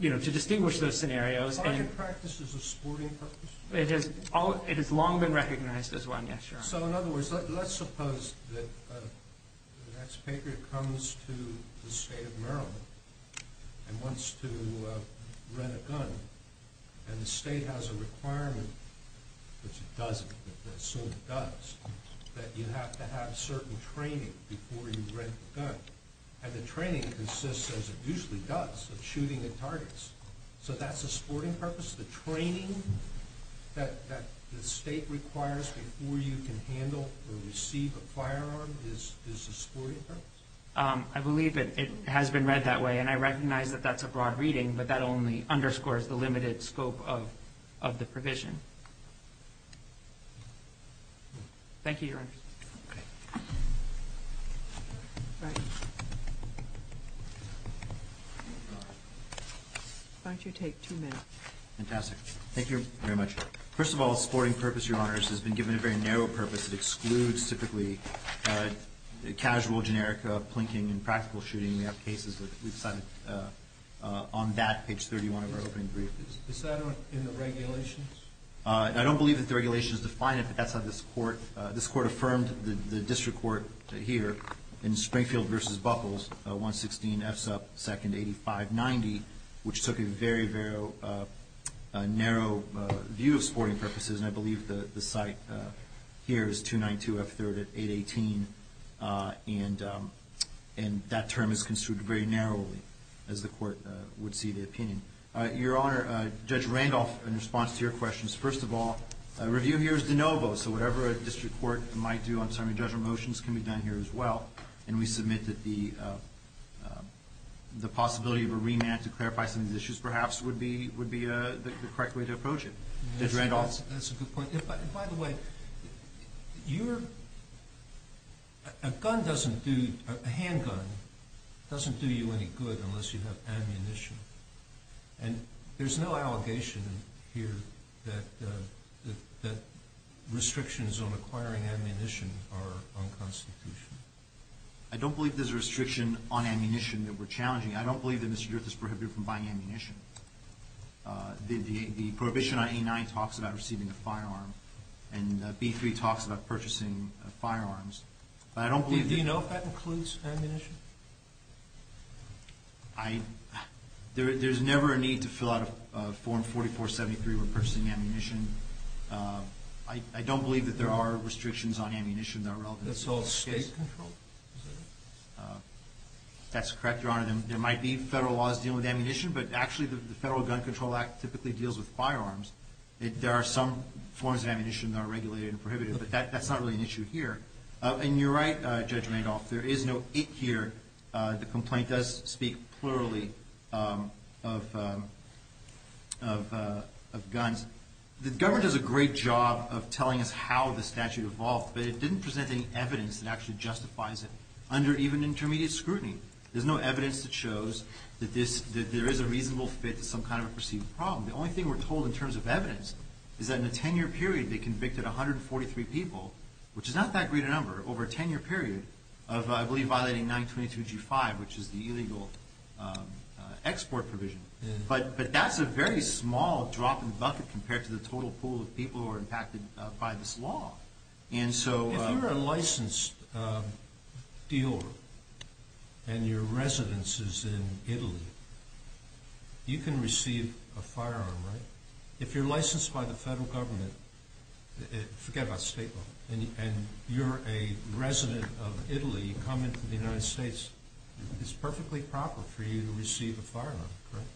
distinguish those scenarios. Target practice is a sporting purpose? It has long been recognized as one, yes, Your Honor. So in other words, let's suppose that the next paper comes to the state of Maryland and wants to rent a gun, and the state has a requirement, which it doesn't, that you have to have certain training before you rent a gun, and the training consists, as it usually does, of shooting at targets. So that's a sporting purpose? The training that the state requires before you can handle or receive a firearm is a sporting purpose? I believe it has been read that way, and I recognize that that's a broad reading, but that only underscores the limited scope of the provision. Thank you, Your Honor. Why don't you take two minutes? Fantastic. Thank you very much. First of all, a sporting purpose, Your Honors, has been given a very narrow purpose. It excludes typically casual, generic, plinking, and practical shooting. We have cases that we've cited on that. Page 31 of our opening brief. Is that in the regulations? I don't believe that the regulations define it, but that's how this Court affirmed the district court here in Springfield v. Buckles, 116F2nd8590, which took a very, very narrow view of sporting purposes, and I believe the site here is 292F3rd818, and that term is construed very narrowly, as the Court would see the opinion. Your Honor, Judge Randolph, in response to your questions, first of all, a review here is de novo, so whatever a district court might do on summary judgment motions can be done here as well, and we submit that the possibility of a remand to clarify some of the issues perhaps would be the correct way to approach it. That's a good point. By the way, a handgun doesn't do you any good unless you have ammunition, and there's no allegation here that restrictions on acquiring ammunition are unconstitutional. I don't believe there's a restriction on ammunition that we're challenging. I don't believe that Mr. Girth is prohibited from buying ammunition. The prohibition on A-9 talks about receiving a firearm, and B-3 talks about purchasing firearms. Do you know if that includes ammunition? There's never a need to fill out a Form 4473 when purchasing ammunition. I don't believe that there are restrictions on ammunition that are relevant. That's all state control? That's correct, Your Honor. There might be federal laws dealing with ammunition, but actually the Federal Gun Control Act typically deals with firearms. There are some forms of ammunition that are regulated and prohibited, but that's not really an issue here. And you're right, Judge Randolph, there is no it here. The complaint does speak plurally of guns. The government does a great job of telling us how the statute evolved, but it didn't present any evidence that actually justifies it under even intermediate scrutiny. There's no evidence that shows that there is a reasonable fit to some kind of a perceived problem. The only thing we're told in terms of evidence is that in a 10-year period they convicted 143 people, which is not that great a number, over a 10-year period of, I believe, violating 922G5, which is the illegal export provision. But that's a very small drop in the bucket compared to the total pool of people who are impacted by this law. If you're a licensed dealer and your residence is in Italy, you can receive a firearm, right? If you're licensed by the federal government, forget about state law, and you're a resident of Italy, you come into the United States, it's perfectly proper for you to receive a firearm, correct?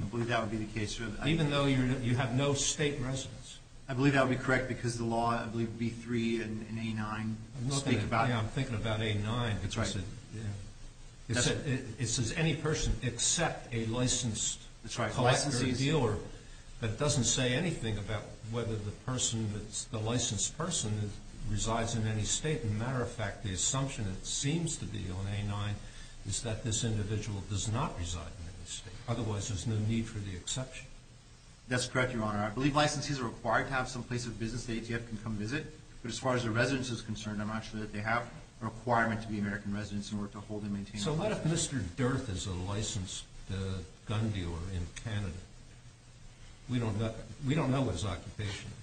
I believe that would be the case. Even though you have no state residence? I believe that would be correct because the law, I believe, B-3 and A-9 speak about it. I'm thinking about A-9. That's right. It says any person except a licensed collector or dealer, but it doesn't say anything about whether the licensed person resides in any state. As a matter of fact, the assumption that seems to be on A-9 is that this individual does not reside in any state. Otherwise, there's no need for the exception. That's correct, Your Honor. I believe licensees are required to have some place of business the ATF can come visit, but as far as their residence is concerned, I'm not sure that they have a requirement to be American residents in order to hold and maintain a license. So what if Mr. Durth is a licensed gun dealer in Canada? We don't know what his occupation is.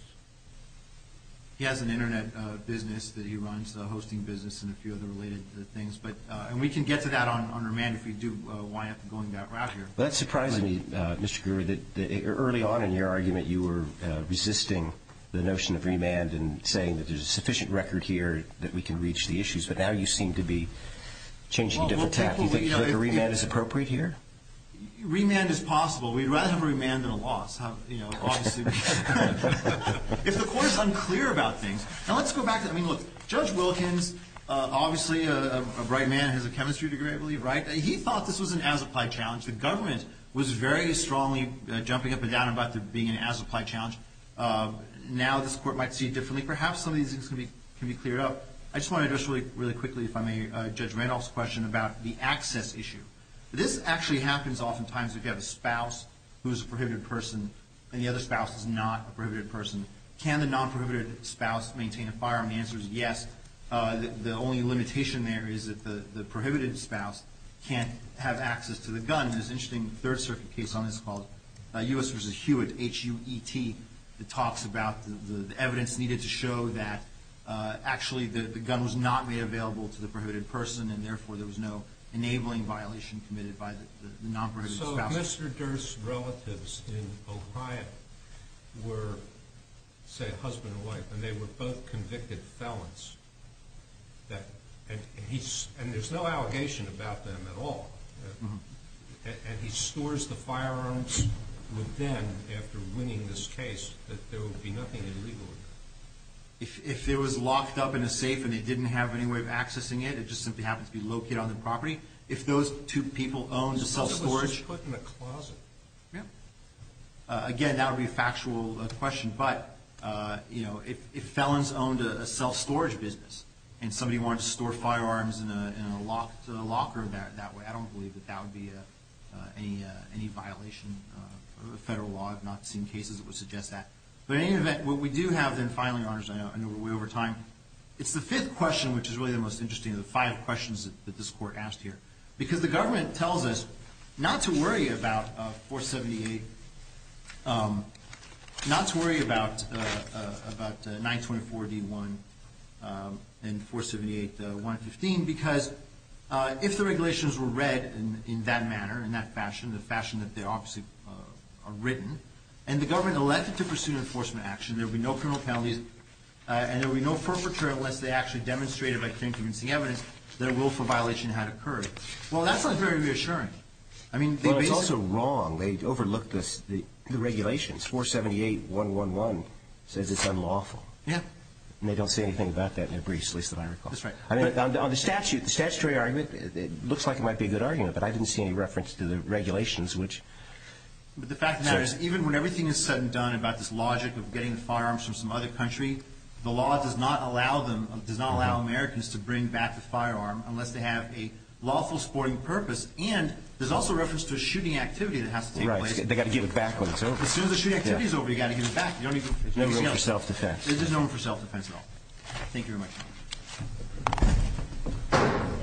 He has an Internet business that he runs, a hosting business and a few other related things, and we can get to that on remand if we do wind up going that route here. Well, that surprised me, Mr. Guru, that early on in your argument you were resisting the notion of remand and saying that there's a sufficient record here that we can reach the issues, but now you seem to be changing a different tack. Do you think a remand is appropriate here? Remand is possible. We'd rather have a remand than a loss, you know, obviously. If the court is unclear about things. Now, let's go back. I mean, look, Judge Wilkins, obviously a bright man, has a chemistry degree, I believe, right? He thought this was an as-applied challenge. The government was very strongly jumping up and down about it being an as-applied challenge. Now this court might see it differently. Perhaps some of these things can be cleared up. I just want to address really quickly, if I may, Judge Randolph's question about the access issue. This actually happens oftentimes if you have a spouse who is a prohibited person and the other spouse is not a prohibited person. Can the non-prohibited spouse maintain a firearm? The answer is yes. The only limitation there is that the prohibited spouse can't have access to the gun. There's an interesting Third Circuit case on this called U.S. v. Hewitt, H-U-E-T, that talks about the evidence needed to show that actually the gun was not made available to the prohibited person and therefore there was no enabling violation committed by the non-prohibited spouse. So if Mr. Durst's relatives in Ohio were, say, a husband and wife, and they were both convicted felons, and there's no allegation about them at all, and he stores the firearms with them after winning this case, that there would be nothing illegal? If it was locked up in a safe and they didn't have any way of accessing it, it just simply happens to be located on the property, if those two people owned a self-storage? It was just put in a closet. Yeah. Again, that would be a factual question. But, you know, if felons owned a self-storage business and somebody wanted to store firearms in a locked locker that way, I don't believe that that would be any violation of federal law. I've not seen cases that would suggest that. But in any event, what we do have then, finally, Your Honor, as I know we're way over time, it's the fifth question, which is really the most interesting of the five questions that this Court asked here. Because the government tells us not to worry about 478, not to worry about 924-D1 and 478-115, because if the regulations were read in that manner, in that fashion, the fashion that they obviously are written, and the government elected to pursue an enforcement action, there would be no criminal penalties and there would be no perpetrator unless they actually demonstrated by claiming to be seeing evidence that a willful violation had occurred. Well, that sounds very reassuring. I mean, they basically – Well, it's also wrong. They overlooked the regulations. 478-111 says it's unlawful. Yeah. And they don't say anything about that in their briefs, at least that I recall. That's right. On the statute, the statutory argument, it looks like it might be a good argument, but I didn't see any reference to the regulations, which – But the fact of the matter is, even when everything is said and done about this logic of getting the firearms from some other country, the law does not allow them – does not allow Americans to bring back the firearm unless they have a lawful sporting purpose. And there's also reference to a shooting activity that has to take place. Right. They've got to give it back when it's over. As soon as the shooting activity is over, you've got to give it back. There's no room for self-defense. There's no room for self-defense at all. Thank you very much.